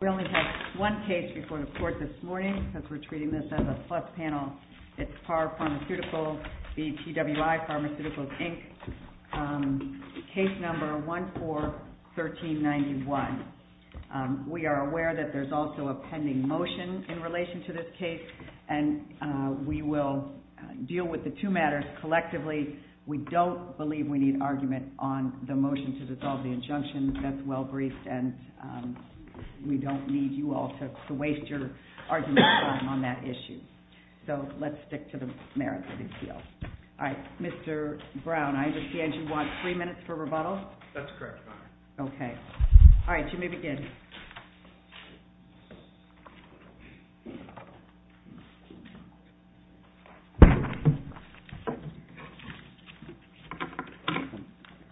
Case No. 14-1391. We are aware that there's also a pending motion in relation to this case, and we will deal with the two matters collectively. We don't believe we need argument on the motion to dissolve the injunction. That's well-briefed, and we don't need you all to waste your argument on that issue. So let's stick to the merits of the appeal. All right. Mr. Brown, I understand you want three minutes for rebuttal? That's correct, Your Honor. Okay. All right, you may begin.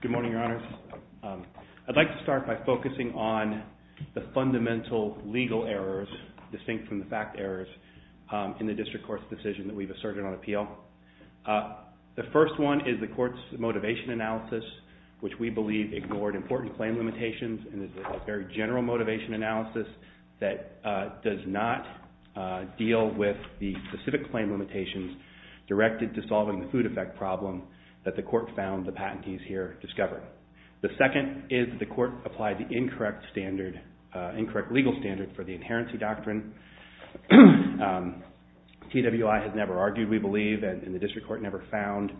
Good morning, Your Honors. I'd like to start by focusing on the fundamental legal errors, distinct from the fact errors, in the district court's decision that we've asserted on appeal. The first one is the court's motivation analysis, which we believe ignored important claim limitations and is a very general motivation analysis that does not deal with the specific claim limitations directed to solving the food effect problem that the court found the patentees here discovered. The second is that the court applied the incorrect legal standard for the claim, and the district court never found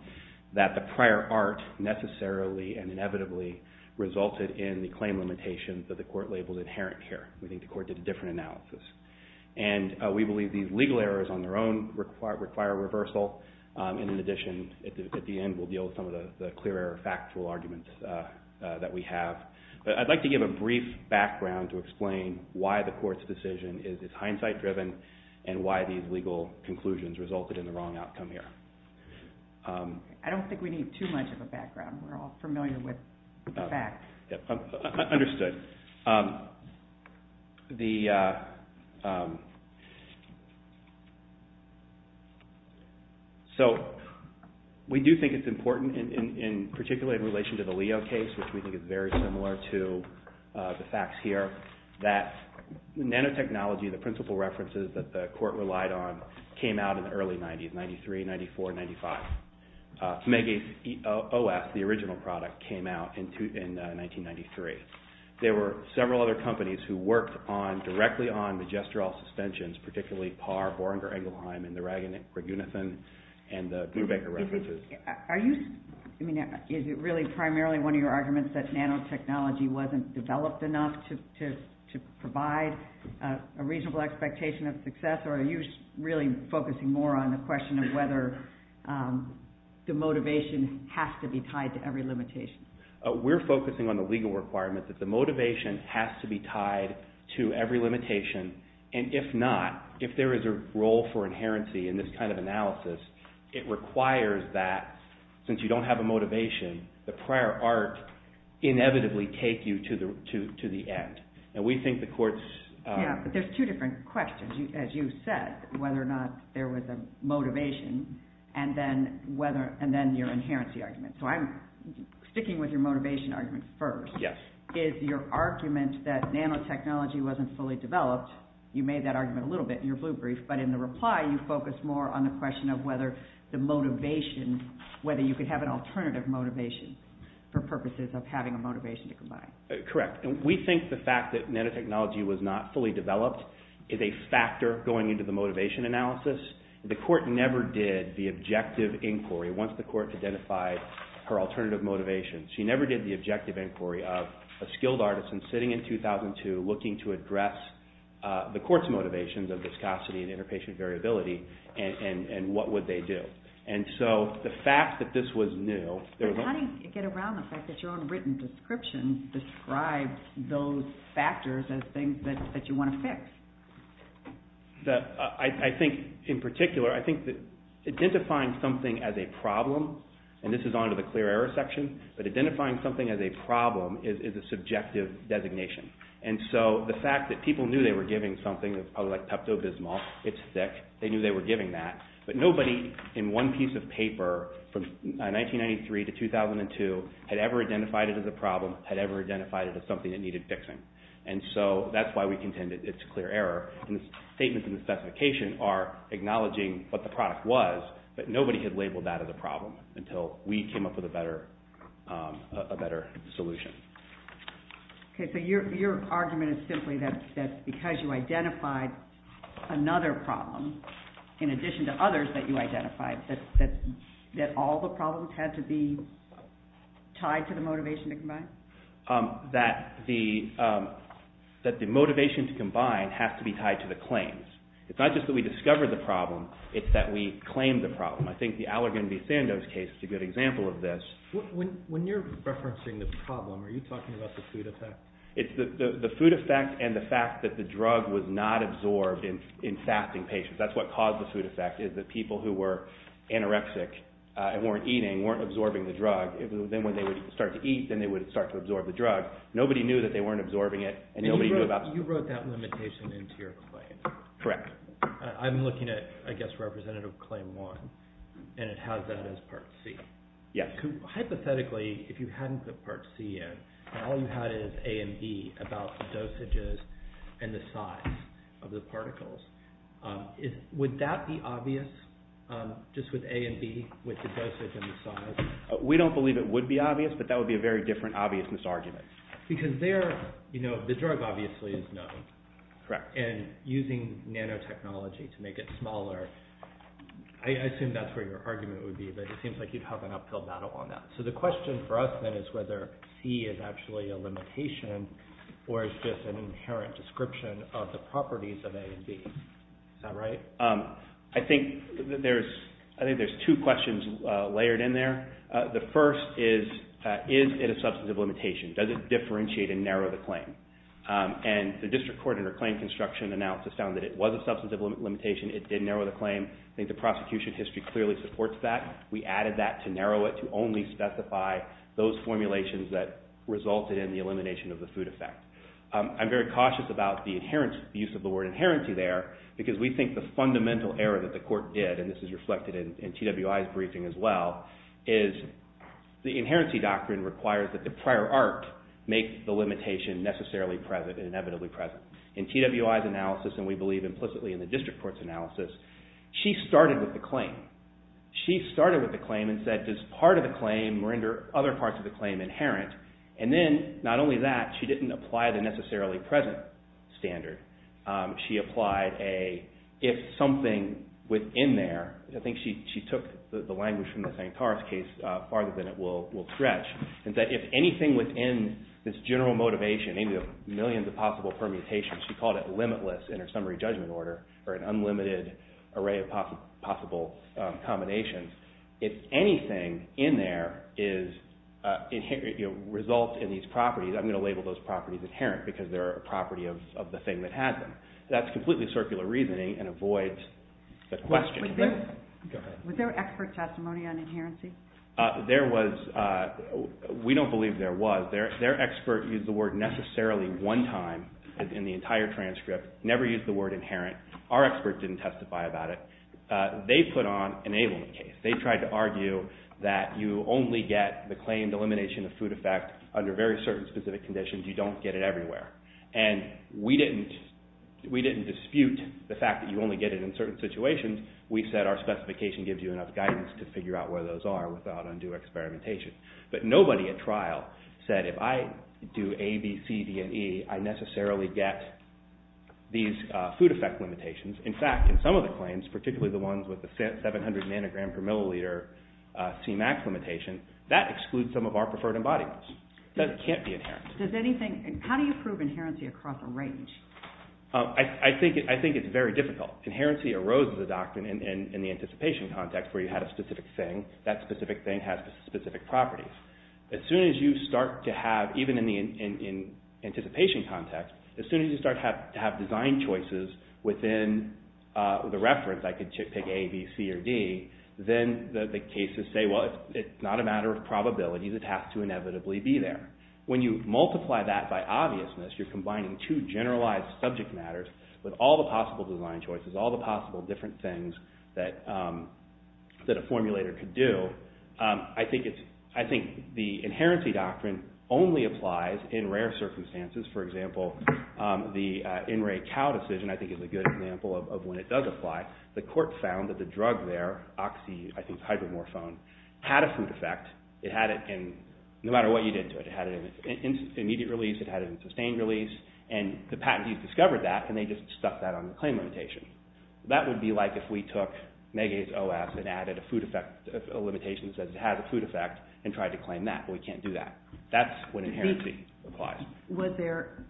that the prior art necessarily and inevitably resulted in the claim limitations that the court labeled inherent here. We think the court did a different analysis. And we believe these legal errors on their own require reversal, and in addition, at the end, we'll deal with some of the clearer factual arguments that we have. But I'd like to give a brief background to explain why the court's decision is hindsight-driven and why these legal conclusions resulted in the wrong outcome here. I don't think we need too much of a background. We're all familiar with the facts. Understood. So we do think it's important, particularly in relation to the Leo case, which we think is very similar to the facts here, that nanotechnology, the principal references, that the court relied on, came out in the early 90s, 93, 94, 95. Megis OS, the original product, came out in 1993. There were several other companies who worked directly on the gestural suspensions, particularly Parr, Boringer, Engelheim, and the Ragunathan and the Brubaker references. Is it really primarily one of your arguments that nanotechnology wasn't developed enough to provide a reasonable expectation of success, or are you really focusing more on the question of whether the motivation has to be tied to every limitation? We're focusing on the legal requirement that the motivation has to be tied to every limitation, and if not, if there is a role for inherency in this kind of analysis, it requires that, since you don't have a motivation, the prior art inevitably take you to the end. And we think the courts... Yeah, but there's two different questions, as you said, whether or not there was a motivation, and then your inherency argument. So I'm sticking with your motivation argument first. Yes. Is your argument that nanotechnology wasn't fully developed, you made that argument a little bit in your blue brief, but in the reply you focused more on the question of whether the motivation, whether you could have an alternative motivation for purposes of having a motivation to combine? Correct. We think the fact that nanotechnology was not fully developed is a factor going into the motivation analysis. The court never did the objective inquiry, once the court identified her alternative motivation. She never did the objective inquiry of a skilled artisan sitting in 2002 looking to address the court's motivations of viscosity and How do you get around the fact that your own written description describes those factors as things that you want to fix? I think in particular, I think that identifying something as a problem, and this is onto the clear error section, but identifying something as a problem is a subjective designation. And so the fact that people knew they were giving something that's probably like Pepto-Bismol, it's thick, they knew they were giving that, but nobody in one piece of paper from 1993 to 2002 had ever identified it as a problem, had ever identified it as something that needed fixing. And so that's why we contend it's a clear error. And the statements in the specification are acknowledging what the product was, but nobody had labeled that as a problem until we came up with a better solution. Okay, so your argument is simply that because you identified another problem in addition to others that you identified, that all the problems had to be tied to the motivation to combine? That the motivation to combine has to be tied to the claims. It's not just that we discovered the problem, it's that we claimed the problem. I think the Allergan B. Sandoz case is a good example of this. When you're referencing the problem, are you talking about the food effect? It's the food effect and the fact that the drug was not the food effect is that people who were anorexic and weren't eating, weren't absorbing the drug, then when they would start to eat, then they would start to absorb the drug. Nobody knew that they weren't absorbing it and nobody knew about... You wrote that limitation into your claim. Correct. I'm looking at, I guess, Representative Claim 1, and it has that as Part C. Yes. Hypothetically, if you hadn't put Part C in, and all you had is A and B about the dosages and the size of the particles, would that be obvious, just with A and B, with the dosage and the size? We don't believe it would be obvious, but that would be a very different obviousness argument. Because there, you know, the drug obviously is known. Correct. And using nanotechnology to make it smaller, I assume that's where your argument would be, but it seems like you'd have an uphill battle on that. So the question for us then is whether C is actually a limitation or is just an inherent description of the properties of A and B. Is that right? I think there's two questions layered in there. The first is, is it a substantive limitation? Does it differentiate and narrow the claim? And the District Court, under claim construction analysis, found that it was a substantive limitation. It did narrow the claim. I think the prosecution history clearly supports that. We added that to narrow it to only specify those formulations that resulted in the elimination of the food effect. I'm very cautious about the use of the word inherency there, because we think the fundamental error that the court did, and this is reflected in TWI's briefing as well, is the inherency doctrine requires that the prior art make the limitation necessarily present and inevitably present. In TWI's analysis, and we believe implicitly in the District Court's analysis, she started with the claim. She started with the claim and said, does part of the claim render other parts of the claim inherent? And then, not only that, she didn't apply the necessarily present standard. She applied a, if something within there, I think she took the language from the Santoros case farther than it will stretch, and that if anything within this general motivation, maybe the millions of possible permutations, she called it limitless in her summary judgment order, or an unlimited array of possible combinations. If anything in there results in these properties, I'm going to label those properties inherent, because they're a property of the thing that has them. That's completely circular reasoning and avoids the question. Was there expert testimony on inherency? There was. We don't believe there was. Their expert used the word necessarily one time in the entire transcript, never used the word inherent. Our experts didn't testify about it. They put on an ablement case. They tried to argue that you only get the claimed elimination of food effect under very certain specific conditions. You don't get it everywhere. And we didn't dispute the fact that you only get it in certain situations. We said our specification gives you enough guidance to figure out where those are without undue experimentation. But nobody at trial said if I do A, B, C, D, and E, I necessarily get these food effect limitations. In fact, in some of the claims, particularly the ones with the 700 nanogram per milliliter C-max limitation, that excludes some of our preferred embodiments. That can't be inherent. How do you prove inherency across a range? I think it's very difficult. Inherency arose as a doctrine in the anticipation context where you had a specific thing. That specific thing has specific properties. As soon as you start to have, even in the anticipation context, as soon as you start to have design choices within the reference, I could pick A, B, C, or D, then the cases say, well, it's not a matter of probabilities. It has to inevitably be there. When you multiply that by obviousness, you're combining two generalized subject matters with all the possible design choices, all the possible different things that a formulator could do. I think the inherency doctrine only applies in rare circumstances. For example, the in-ray cow decision, I think, is a good example of when it does apply. The court found that the drug there, oxy, I think it's hydromorphone, had a food effect. It had it in, no matter what you did to it, it had it in immediate release, it had it in sustained release, and the patentees discovered that, and they just stuck that on the claim limitation. That would be like if we took megase OS and added a food effect limitation that says it has a food effect and tried to claim that, but we can't do that. That's when inherency applies. Was there,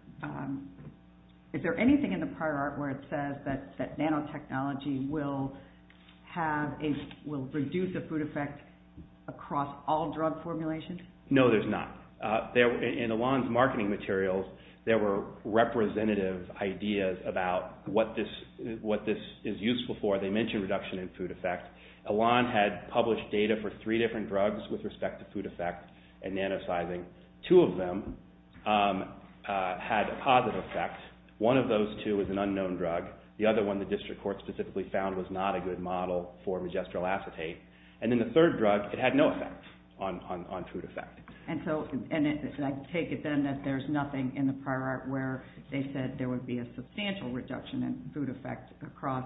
is there anything in the prior art where it says that nanotechnology will have a, will reduce the food effect across all drug formulations? No, there's not. There, in Alon's marketing materials, there were representative ideas about what this, what this is useful for. They mentioned reduction in food effect. Alon had published data for three different drugs with respect to food effect and nanosizing. Two of them had a positive effect. One of those two was an unknown drug. The other one the district court specifically found was not a good model for magistral acetate. And then the third drug, it had no effect on, on, on food effect. And so, and I take it then that there's nothing in the prior art where they said there would be a substantial reduction in food effect across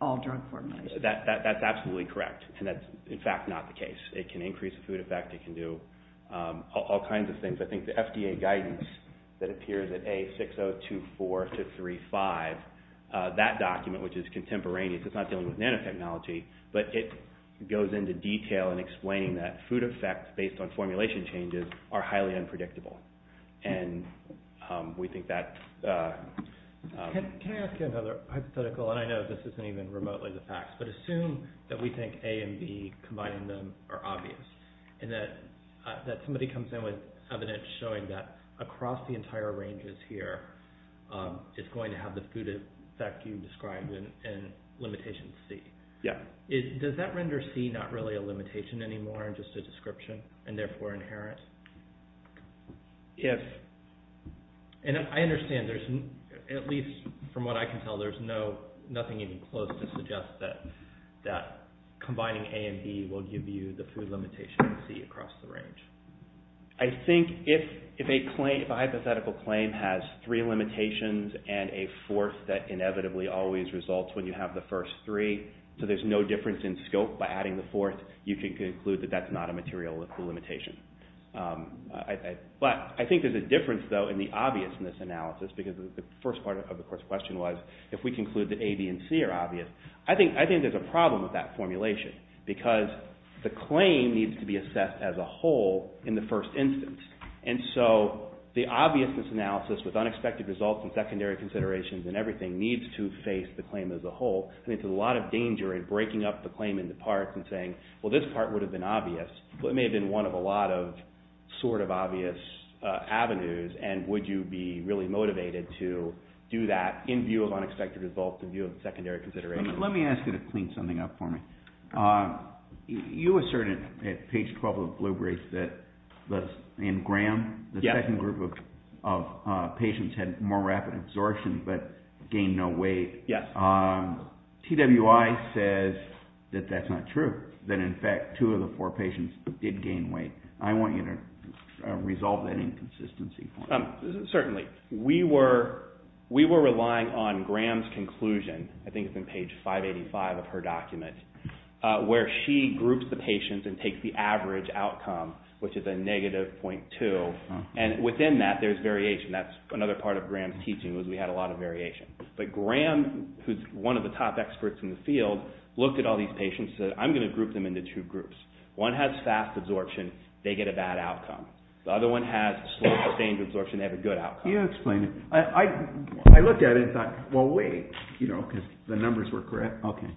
all drug formulations. That, that, that's absolutely correct. And that's in fact not the case. It can increase the food effect, it can do all kinds of things. I think the FDA guidance that appears at A6024 to 35, that document, which is contemporaneous, it's not dealing with nanotechnology, but it goes into detail in explaining that food effects based on formulation changes are highly unpredictable. And we think that... Can, can I ask you another hypothetical? And I know this isn't even remotely the facts, but assume that we think A and B, combining them, are obvious. And that, that somebody comes in with evidence showing that across the entire ranges here, it's going to have the food effect you described in, in limitation C. Yeah. Does that render C not really a limitation anymore, just a description, and therefore inherent? Yes. And I understand there's, at least from what I can tell, there's no, nothing even close to suggest that, that combining A and B will give you the food limitation C across the range. I think if, if a claim, if a hypothetical claim has three limitations and a fourth that there's no difference in scope by adding the fourth, you can conclude that that's not a material limitation. But I think there's a difference, though, in the obviousness analysis because the first part of the question was, if we conclude that A, B, and C are obvious, I think, I think there's a problem with that formulation because the claim needs to be assessed as a whole in the first instance. And so the obviousness analysis with unexpected results and secondary considerations and everything needs to face the claim as a whole. I think there's a lot of danger in breaking up the claim into parts and saying, well, this part would have been obvious, but it may have been one of a lot of sort of obvious avenues. And would you be really motivated to do that in view of unexpected results, in view of secondary considerations? Let me ask you to clean something up for me. You asserted at page 12 of the blue brief that in Graham, the second group of patients had more rapid absorption but gained no weight. Yes. TWI says that that's not true, that in fact two of the four patients did gain weight. I want you to resolve that inconsistency for me. Certainly. We were relying on Graham's conclusion, I think it's in page 585 of her document, where she groups the patients and takes the average outcome, which is a negative .2, and within that there's variation. That's another part of Graham's teaching was we had a lot of variation. But Graham, who's one of the top experts in the field, looked at all these patients and said, I'm going to group them into two groups. One has fast absorption, they get a bad outcome. The other one has slow sustained absorption, they have a good outcome. You explain it. I looked at it and thought, well, wait, because the numbers were correct. Okay.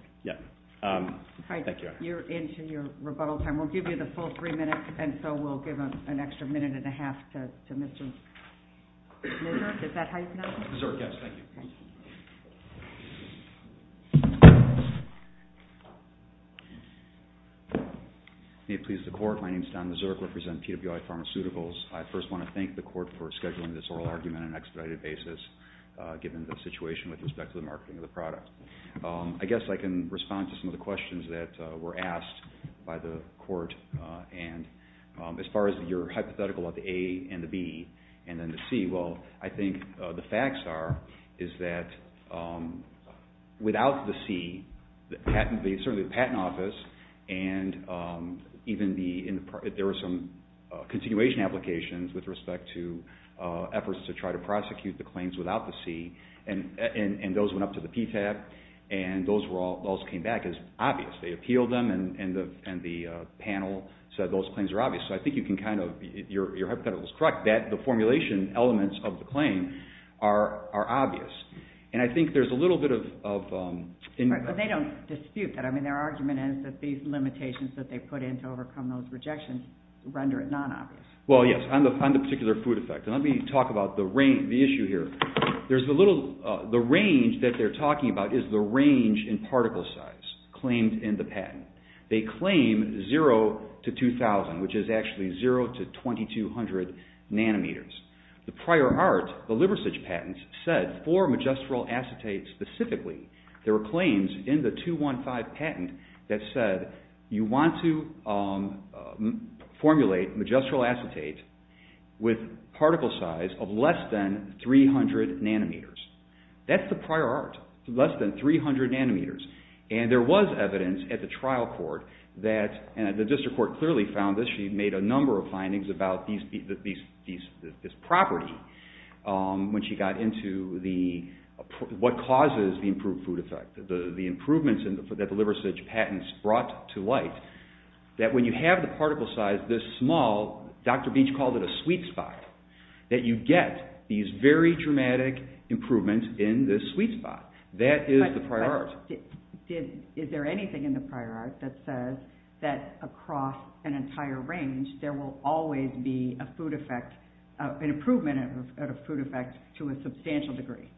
Thank you. You're into your rebuttal time. We'll give you the full three minutes, and so we'll give it to Don Mazurk. May it please the court, my name is Don Mazurk, I represent PWI Pharmaceuticals. I first want to thank the court for scheduling this oral argument on an expedited basis, given the situation with respect to the marketing of the product. I guess I can respond to some of the questions that were asked by the court, and as far as your hypothetical of the A and the B, and then the C, well, I think the facts are, is that without the C, certainly the patent office, and even there were some continuation applications with respect to efforts to try to prosecute the claims without the C, and those went up to the PTAB, and those came back as obvious. They appealed them, and the panel said those claims are obvious, so I think you can kind of, your hypothetical is correct, that the formulation elements of the claim are obvious, and I think there's a little bit of... Right, but they don't dispute that. I mean, their argument is that these limitations that they put in to overcome those rejections render it non-obvious. Well, yes, on the particular food effect, and let me talk about the range, the issue here. There's a little, the range that they're talking about is the range in particle size claimed in the patent. They claim zero to 2,000, which is actually zero to 2,200 nanometers. The prior art, the Liversidge patents, said for magistral acetate specifically, there were claims in the 215 patent that said you want to formulate magistral acetate with particle size of less than 300 nanometers. That's the prior art, less than 300 nanometers, and there was evidence at the trial court that, and the district court clearly found this, she made a number of findings about this property when she got into what causes the improved food effect, the improvements that the Liversidge patents brought to light, that when you have the particle size this small, Dr. Beach called it a sweet spot, that you get these very dramatic improvements in this sweet spot. That is the prior art. Is there anything in the prior art that says that across an entire range, there will always be a food effect, an improvement of a food effect to a substantial degree?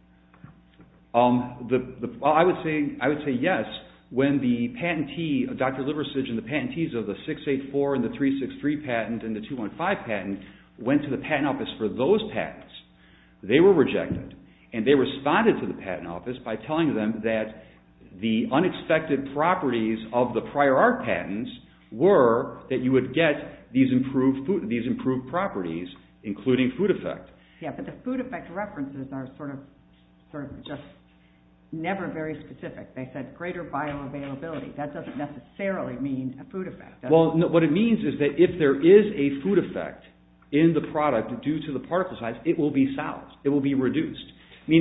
I would say yes. When the patentee, Dr. Liversidge and the patentees of the 684 and the 363 patent and the 215 patent went to the patent office for those patents, they were rejected, and they responded to the patent office by telling them that the unexpected properties of the prior art patents were that you would get these improved properties, including food effect. Yeah, but the food effect references are sort of just never very specific. They said greater bioavailability. That doesn't necessarily mean a food effect. Well, what it means is that if there is a food effect in the product due to the particle size, it will be solved. It will be reduced.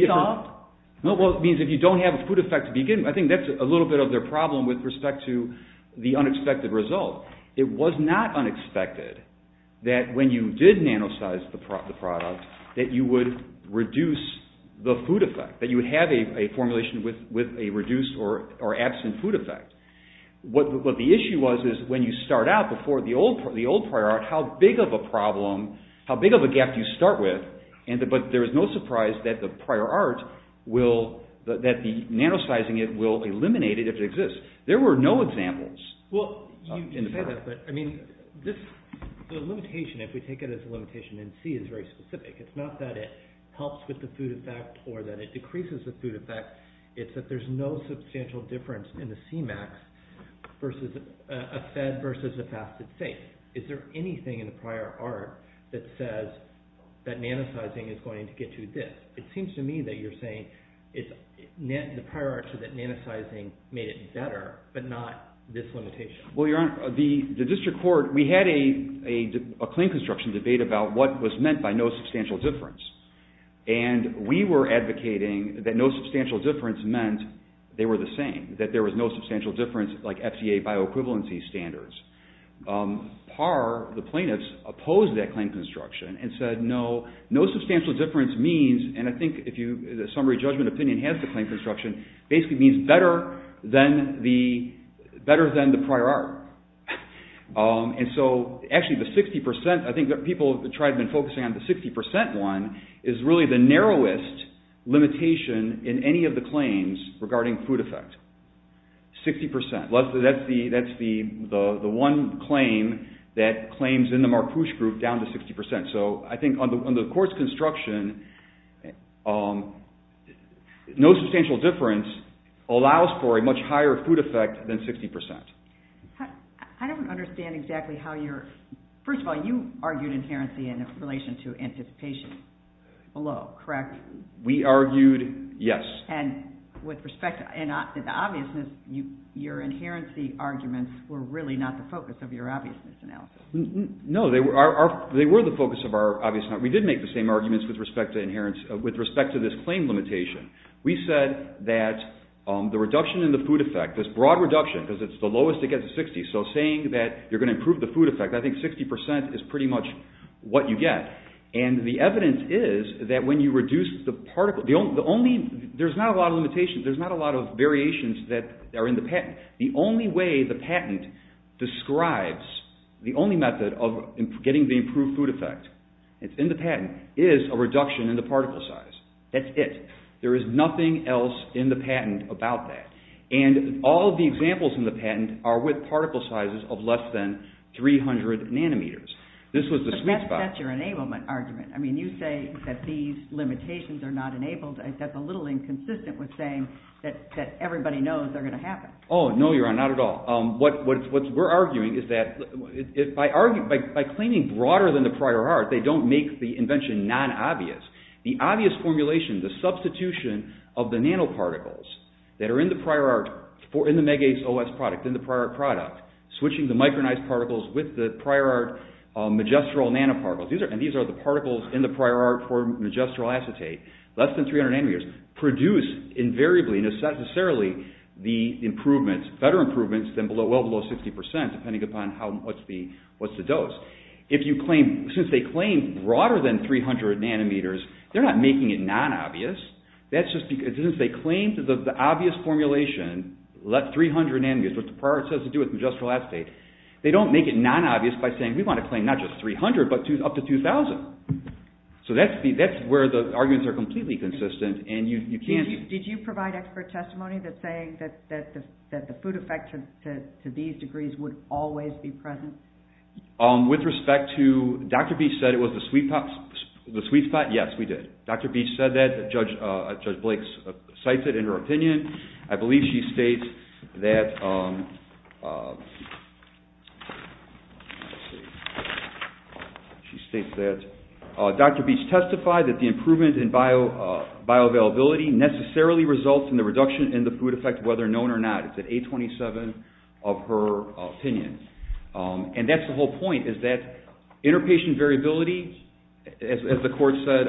Solved? Well, it means if you don't have a food effect to begin with, I think that's a little bit of their problem with respect to the unexpected result. It was not unexpected that when you did nanosize the product, that you would reduce the food effect, that you would have a formulation with a reduced or absent food effect. What the issue was is when you start out before the old prior art, how big of a problem, how big of a gap do you start with, but there was no surprise that the prior art, that the nanosizing it will eliminate it if it exists. There were no examples. Well, you say that, but I mean, the limitation, if we take it as a limitation in C is very specific. It's not that it helps with the food effect or that it decreases the food effect. It's that there's no substantial difference in the Cmax versus a fed versus a fasted safe. Is there anything in the prior art that says that nanosizing is going to get you this? It seems to me that you're saying the prior art said that nanosizing made it better, but not this limitation. Well, Your Honor, the district court, we had a claim construction debate about what was meant by no substantial difference meant they were the same, that there was no substantial difference like FDA bioequivalency standards. PAR, the plaintiffs, opposed that claim construction and said no, no substantial difference means, and I think the summary judgment opinion has the claim construction, basically means better than the prior art. And so, actually the 60%, I think that people have been focusing on the 60% one, is really the narrowest limitation in any of the claims regarding food effect. 60%. That's the one claim that claims in the Marpouche group down to 60%. So, I think on the court's construction, no substantial difference allows for a much higher food effect than 60%. I don't understand exactly how you're, first of all, you argued inherency in relation to anticipation below, correct? We argued yes. And with respect to the obviousness, your inherency arguments were really not the focus of your obviousness analysis. No, they were the focus of our obviousness. We did make the same arguments with respect to this claim limitation. We said that the reduction in the food effect, this broad reduction, because it's the lowest it gets at 60, so saying that you're going to improve the food effect, I think 60% is pretty much what you get. And the evidence is that when you reduce the particle, the only, there's not a lot of limitations, there's not a lot of variations that are in the patent. The only way the patent describes, the only method of getting the improved food effect, it's in the patent, is a reduction in the particle size. That's it. There is nothing else in the patent about that. And all the examples in the patent are with particle sizes of less than 300 nanometers. This was the sweet spot. But that's your enablement argument. I mean, you say that these limitations are not enabled. That's a little inconsistent with saying that everybody knows they're going to happen. Oh, no, Your Honor, not at all. What we're arguing is that by claiming broader than the prior art, they don't make the invention non-obvious. The obvious formulation, the substitution of the nanoparticles that are in the prior art, in the MEGACE OS product, in the prior art product, switching the micronized particles with the prior art magestral nanoparticles, and these are the particles in the prior art for magestral acetate, less than 300 nanometers, produce invariably, necessarily, better improvements than well below 60 percent, depending upon what's the dose. Since they claim broader than 300 nanometers, they're not making it non-obvious. Since they claim the obvious formulation, 300 nanometers, what the prior art says to do with magestral acetate, they don't make it non-obvious by saying, we want to claim not just 300, but up to 2,000. So that's where the arguments are completely consistent and you can't... Did you provide expert testimony that's saying that the food effect to these degrees would always be present? With respect to, Dr. Beach said it was the sweet spot, yes, we did. Dr. Beach said that, Judge Blake cites it in her opinion. I believe she states that... She states that Dr. Beach testified that the improvement in bioavailability necessarily results in the reduction in the food effect, whether known or not. It's at 827 of her opinion. And that's the whole point, is that interpatient variability, as the court said,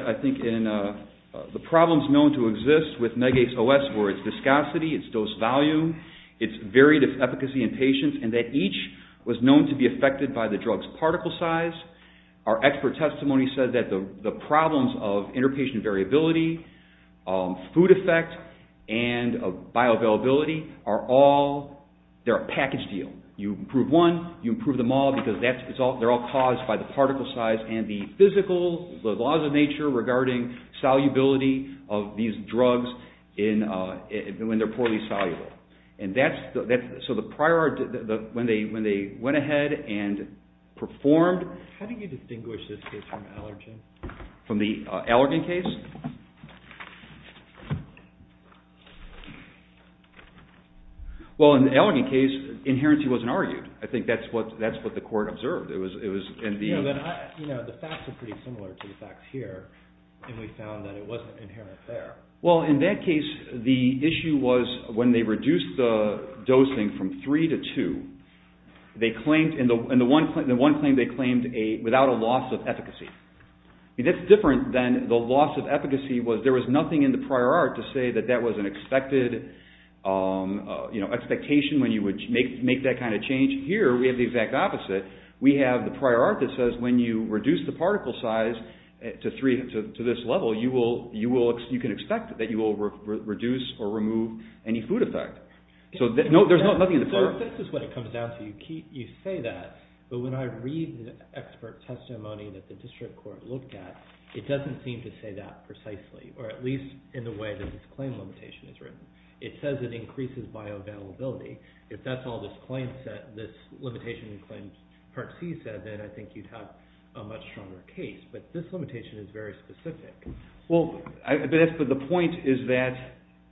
the problems known to exist with MEGACE-OS were its viscosity, its dose value, its varied efficacy in patients, and that each was known to be affected by the drug's particle size. Our expert testimony said that the problems of interpatient variability, food effect, and bioavailability are all, they're a package deal. You improve one, you improve them all, because they're all caused by the particle size and the physical, the laws of nature regarding solubility of these drugs when they're poorly soluble. And that's, so the prior, when they went ahead and performed... How do you distinguish this case from Allergan? From the Allergan case? Well, in the Allergan case, inherently wasn't argued. I think that's what the court observed. You know, the facts are pretty similar to the facts here, and we found that it wasn't inherent there. Well, in that case, the issue was when they reduced the dosing from 3 to 2, they claimed, in the one claim, they claimed without a loss of efficacy. That's different than the loss of efficacy was there was nothing in the prior art to say that that was an expected expectation when you would make that kind of change. Here, we have the exact opposite. We have the prior art that says when you reduce the particle size to this level, you can expect that you will reduce or remove any food effect. So, no, there's nothing in the prior art. This is what it comes down to. You say that, but when I read the expert testimony that the district court looked at, it doesn't seem to say that precisely, or at least in the way that this claim limitation is written. It says it increases bioavailability. If that's all this limitation in Claims Part C said, then I think you'd have a much stronger case. But this limitation is very specific. Well, the point is that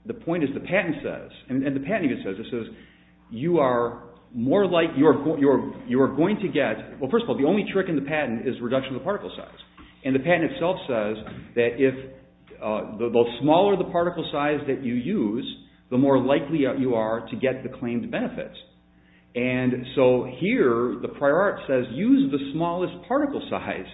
the patent says, and the patent even says this, you are going to get, well, first of all, the only trick in the patent is reduction of the particle size, and the patent itself says that the smaller the particle size that you use, the more likely you are to get the claimed benefits. And so here, the prior art says use the smallest particle size.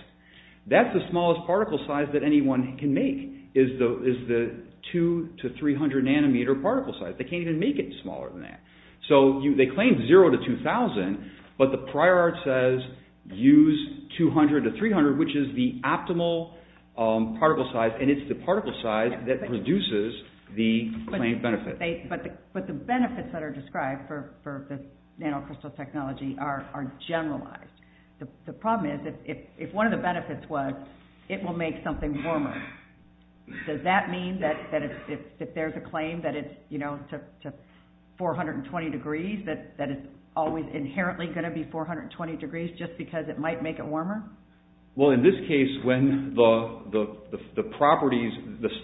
That's the smallest particle size that anyone can make, is the two to three hundred nanometer particle size. They can't even make it smaller than that. So they claim zero to two thousand, but the prior art says use two hundred to three hundred, which is the optimal particle size, and it's the particle size that produces the claimed benefits. But the benefits that are described for the nanocrystal technology are generalized. The problem is if one of the benefits was it will make something warmer, does that mean that if there's a claim that it's, you know, to four hundred and twenty degrees, that it's always inherently going to be four hundred and twenty degrees just because it might make it warmer? Well, in this case, when the properties,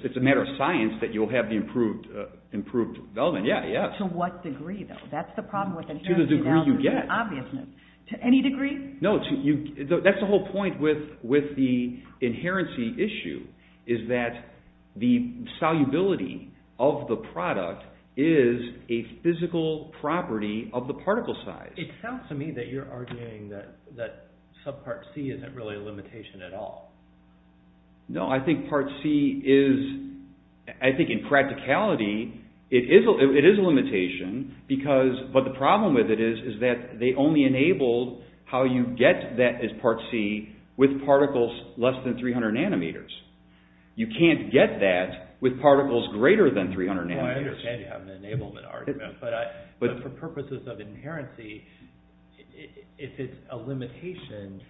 it's a matter of science that you'll have the improved element, yeah, yeah. To what degree, though? That's the problem with the inherency element. To the degree you get. To any degree? No, that's the whole point with the inherency issue, is that the solubility of the product is a physical property of the particle size. It sounds to me that you're arguing that subpart C isn't really a limitation at all. No, I think part C is, I think in practicality, it is a limitation, but the problem with it is that they only enabled how you get that as part C with particles less than three hundred nanometers. You can't get that with particles greater than three hundred nanometers. Well, I understand you have an enablement argument, but for purposes of inherency, if it's a limitation,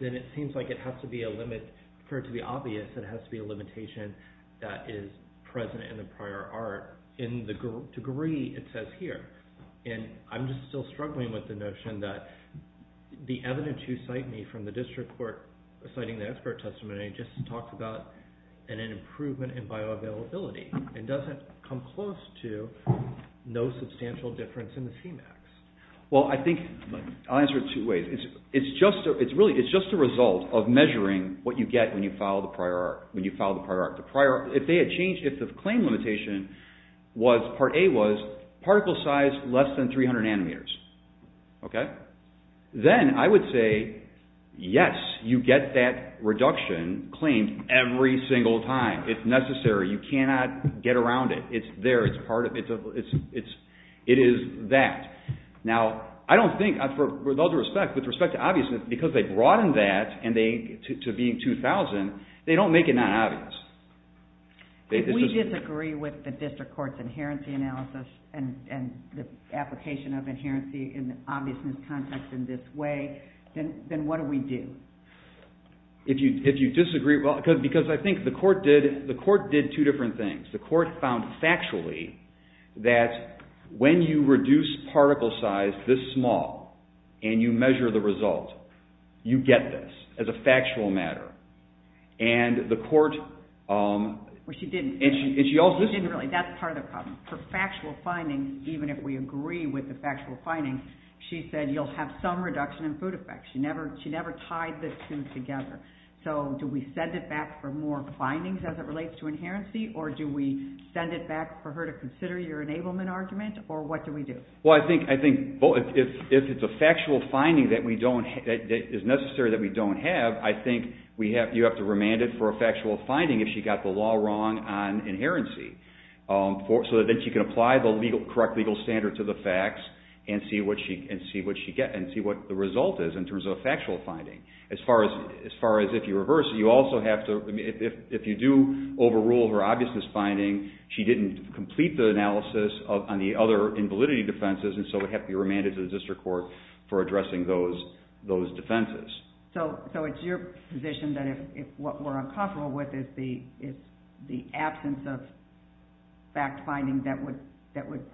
then it seems like it has to be a limit. For it to be obvious, it has to be a limitation that is present in the prior art. In the degree, it says here, and I'm just still struggling with the notion that the evidence you cite me from the district court citing the expert testimony just talks about an improvement in bioavailability. It doesn't come close to no substantial difference in the Cmax. Well, I think, I'll answer it two ways. It's just a result of measuring what you get when you follow the prior art. If the claim limitation was, part A was, particle size less than three hundred nanometers, then I would say, yes, you get that reduction claimed every single time. It's necessary. You cannot get around it. It's there. It's part of it. It is that. Now, I don't think, with all due respect, with respect to obviousness, because they broaden that to being two thousand, they don't make it not obvious. If we disagree with the district court's inherency analysis and the application of inherency in the obviousness context in this way, then what do we do? If you disagree, well, because I think the court did two different things. The court found factually that when you reduce particle size this small and you measure the result, you get this as a factual matter. And the court… Well, she didn't. And she also… She didn't really. That's part of the problem. For factual findings, even if we agree with the factual findings, she said you'll have some reduction in food effects. She never tied the two together. So do we send it back for more findings as it relates to inherency, or do we send it back for her to consider your enablement argument, or what do we do? Well, I think if it's a factual finding that is necessary that we don't have, I think you have to remand it for a factual finding if she got the law wrong on inherency, so that she can apply the correct legal standard to the facts and see what the result is in terms of a factual finding. As far as if you reverse it, you also have to… If you do overrule her obviousness finding, she didn't complete the analysis on the other invalidity defenses, and so it would have to be remanded to the district court for addressing those defenses. So it's your position that if what we're uncomfortable with is the absence of fact-finding that would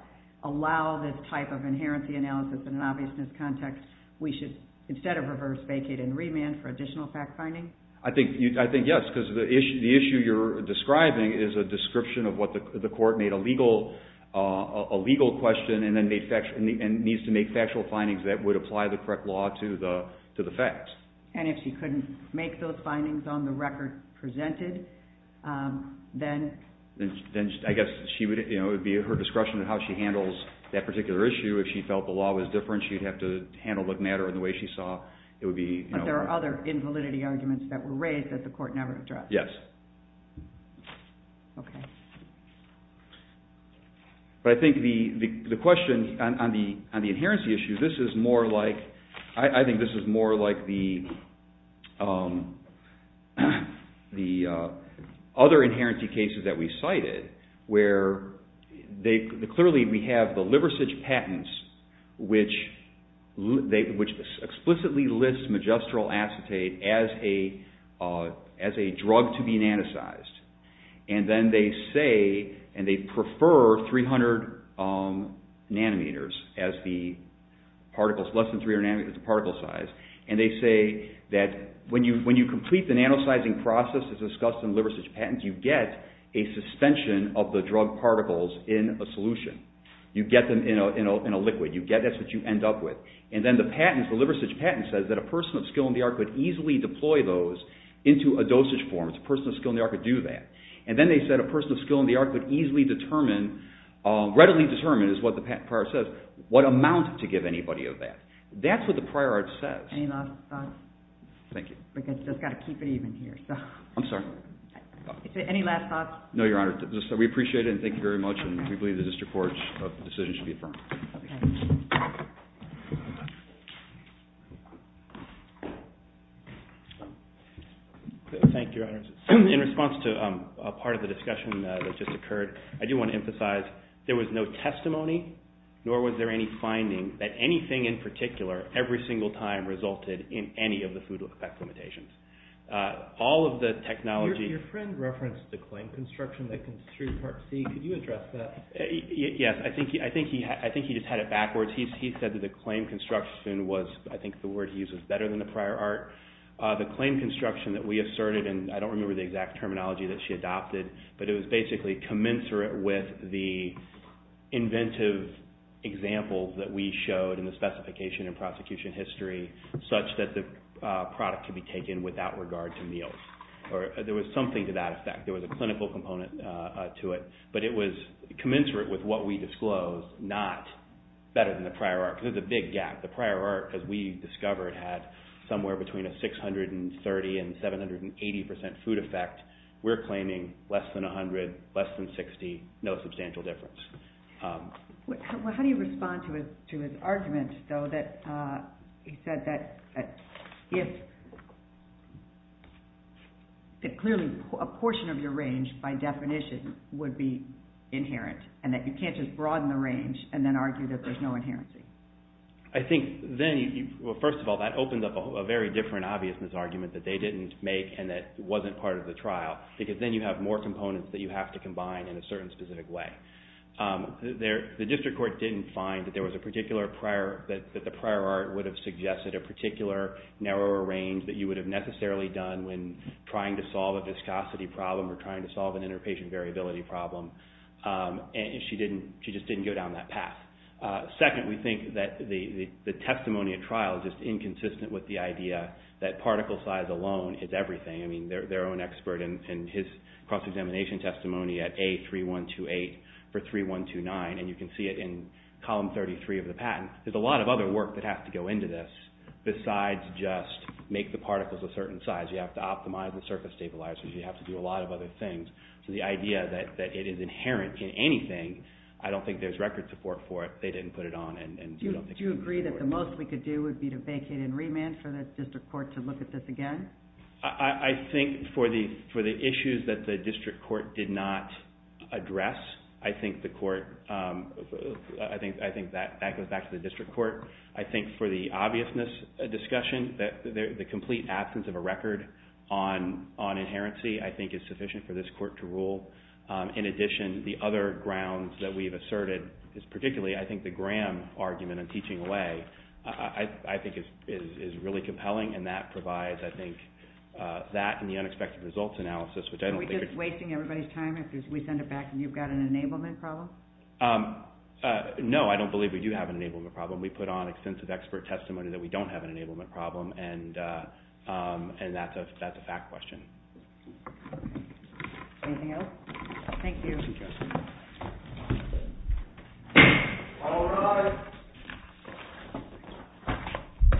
allow this type of inherency analysis in an obviousness context, we should, instead of reverse, vacate and remand for additional fact-finding? I think yes, because the issue you're describing is a description of what the court made a legal question and needs to make factual findings that would apply the correct law to the facts. And if she couldn't make those findings on the record presented, then… Then I guess it would be at her discretion on how she handles that particular issue. If she felt the law was different, she'd have to handle the matter in the way she saw it would be… But there are other invalidity arguments that were raised that the court never addressed. Yes. Okay. But I think the question on the inherency issue, this is more like… I think this is more like the other inherency cases that we cited where clearly we have the Liversidge patents which explicitly list magistral acetate as a drug to be nanotized. And then they say, and they prefer 300 nanometers as the particles, less than 300 nanometers as the particle size. And they say that when you complete the nanotizing process as discussed in the Liversidge patents, you get a suspension of the drug particles in a solution. You get them in a liquid. That's what you end up with. And then the patents, the Liversidge patents, says that a person of skill in the art could easily deploy those into a dosage form. A person of skill in the art could do that. And then they said a person of skill in the art could easily determine, readily determine is what the patent prior says, what amount to give anybody of that. That's what the prior art says. Any last thoughts? Thank you. We've just got to keep it even here. I'm sorry. Any last thoughts? No, Your Honor. We appreciate it and thank you very much. And we believe the district court's decision should be affirmed. Okay. Thank you. Thank you, Your Honor. In response to a part of the discussion that just occurred, I do want to emphasize there was no testimony, nor was there any finding that anything in particular, every single time resulted in any of the food effect limitations. All of the technology – Your friend referenced the claim construction that construed Part C. Could you address that? Yes. I think he just had it backwards. He said that the claim construction was, I think the word he used was better than the prior art. The claim construction that we asserted, and I don't remember the exact terminology that she adopted, but it was basically commensurate with the inventive examples that we showed in the specification and prosecution history, such that the product could be taken without regard to meals. There was something to that effect. There was a clinical component to it. But it was commensurate with what we disclosed, not better than the prior art, because there's a big gap. The prior art, as we discovered, had somewhere between a 630 and 780 percent food effect. We're claiming less than 100, less than 60, no substantial difference. How do you respond to his argument, though, that he said that if clearly a portion of your range, by definition, would be inherent, and that you can't just broaden the range and then argue that there's no inherency? I think then, well, first of all, that opens up a very different obviousness argument that they didn't make and that wasn't part of the trial, because then you have more components that you have to combine in a certain specific way. The district court didn't find that there was a particular prior, that the prior art would have suggested a particular narrower range that you would have necessarily done when trying to solve a viscosity problem or trying to solve an interpatient variability problem. She just didn't go down that path. Second, we think that the testimony at trial is just inconsistent with the idea that particle size alone is everything. I mean, their own expert in his cross-examination testimony at A3128 for 3129, and you can see it in column 33 of the patent. There's a lot of other work that has to go into this besides just make the particles a certain size. You have to optimize the surface stabilizers. You have to do a lot of other things. So the idea that it is inherent in anything, I don't think there's record support for it. They didn't put it on. Do you agree that the most we could do would be to vacate and remand for the district court to look at this again? I think for the issues that the district court did not address, I think that goes back to the district court. I think for the obviousness discussion, the complete absence of a record on inherency, I think is sufficient for this court to rule. In addition, the other grounds that we've asserted, particularly I think the Graham argument on teaching away, I think is really compelling, and that provides I think that and the unexpected results analysis. Are we just wasting everybody's time if we send it back and you've got an enablement problem? No, I don't believe we do have an enablement problem. We put on extensive expert testimony that we don't have an enablement problem, and that's a fact question. Anything else? Thank you. Thank you. All rise.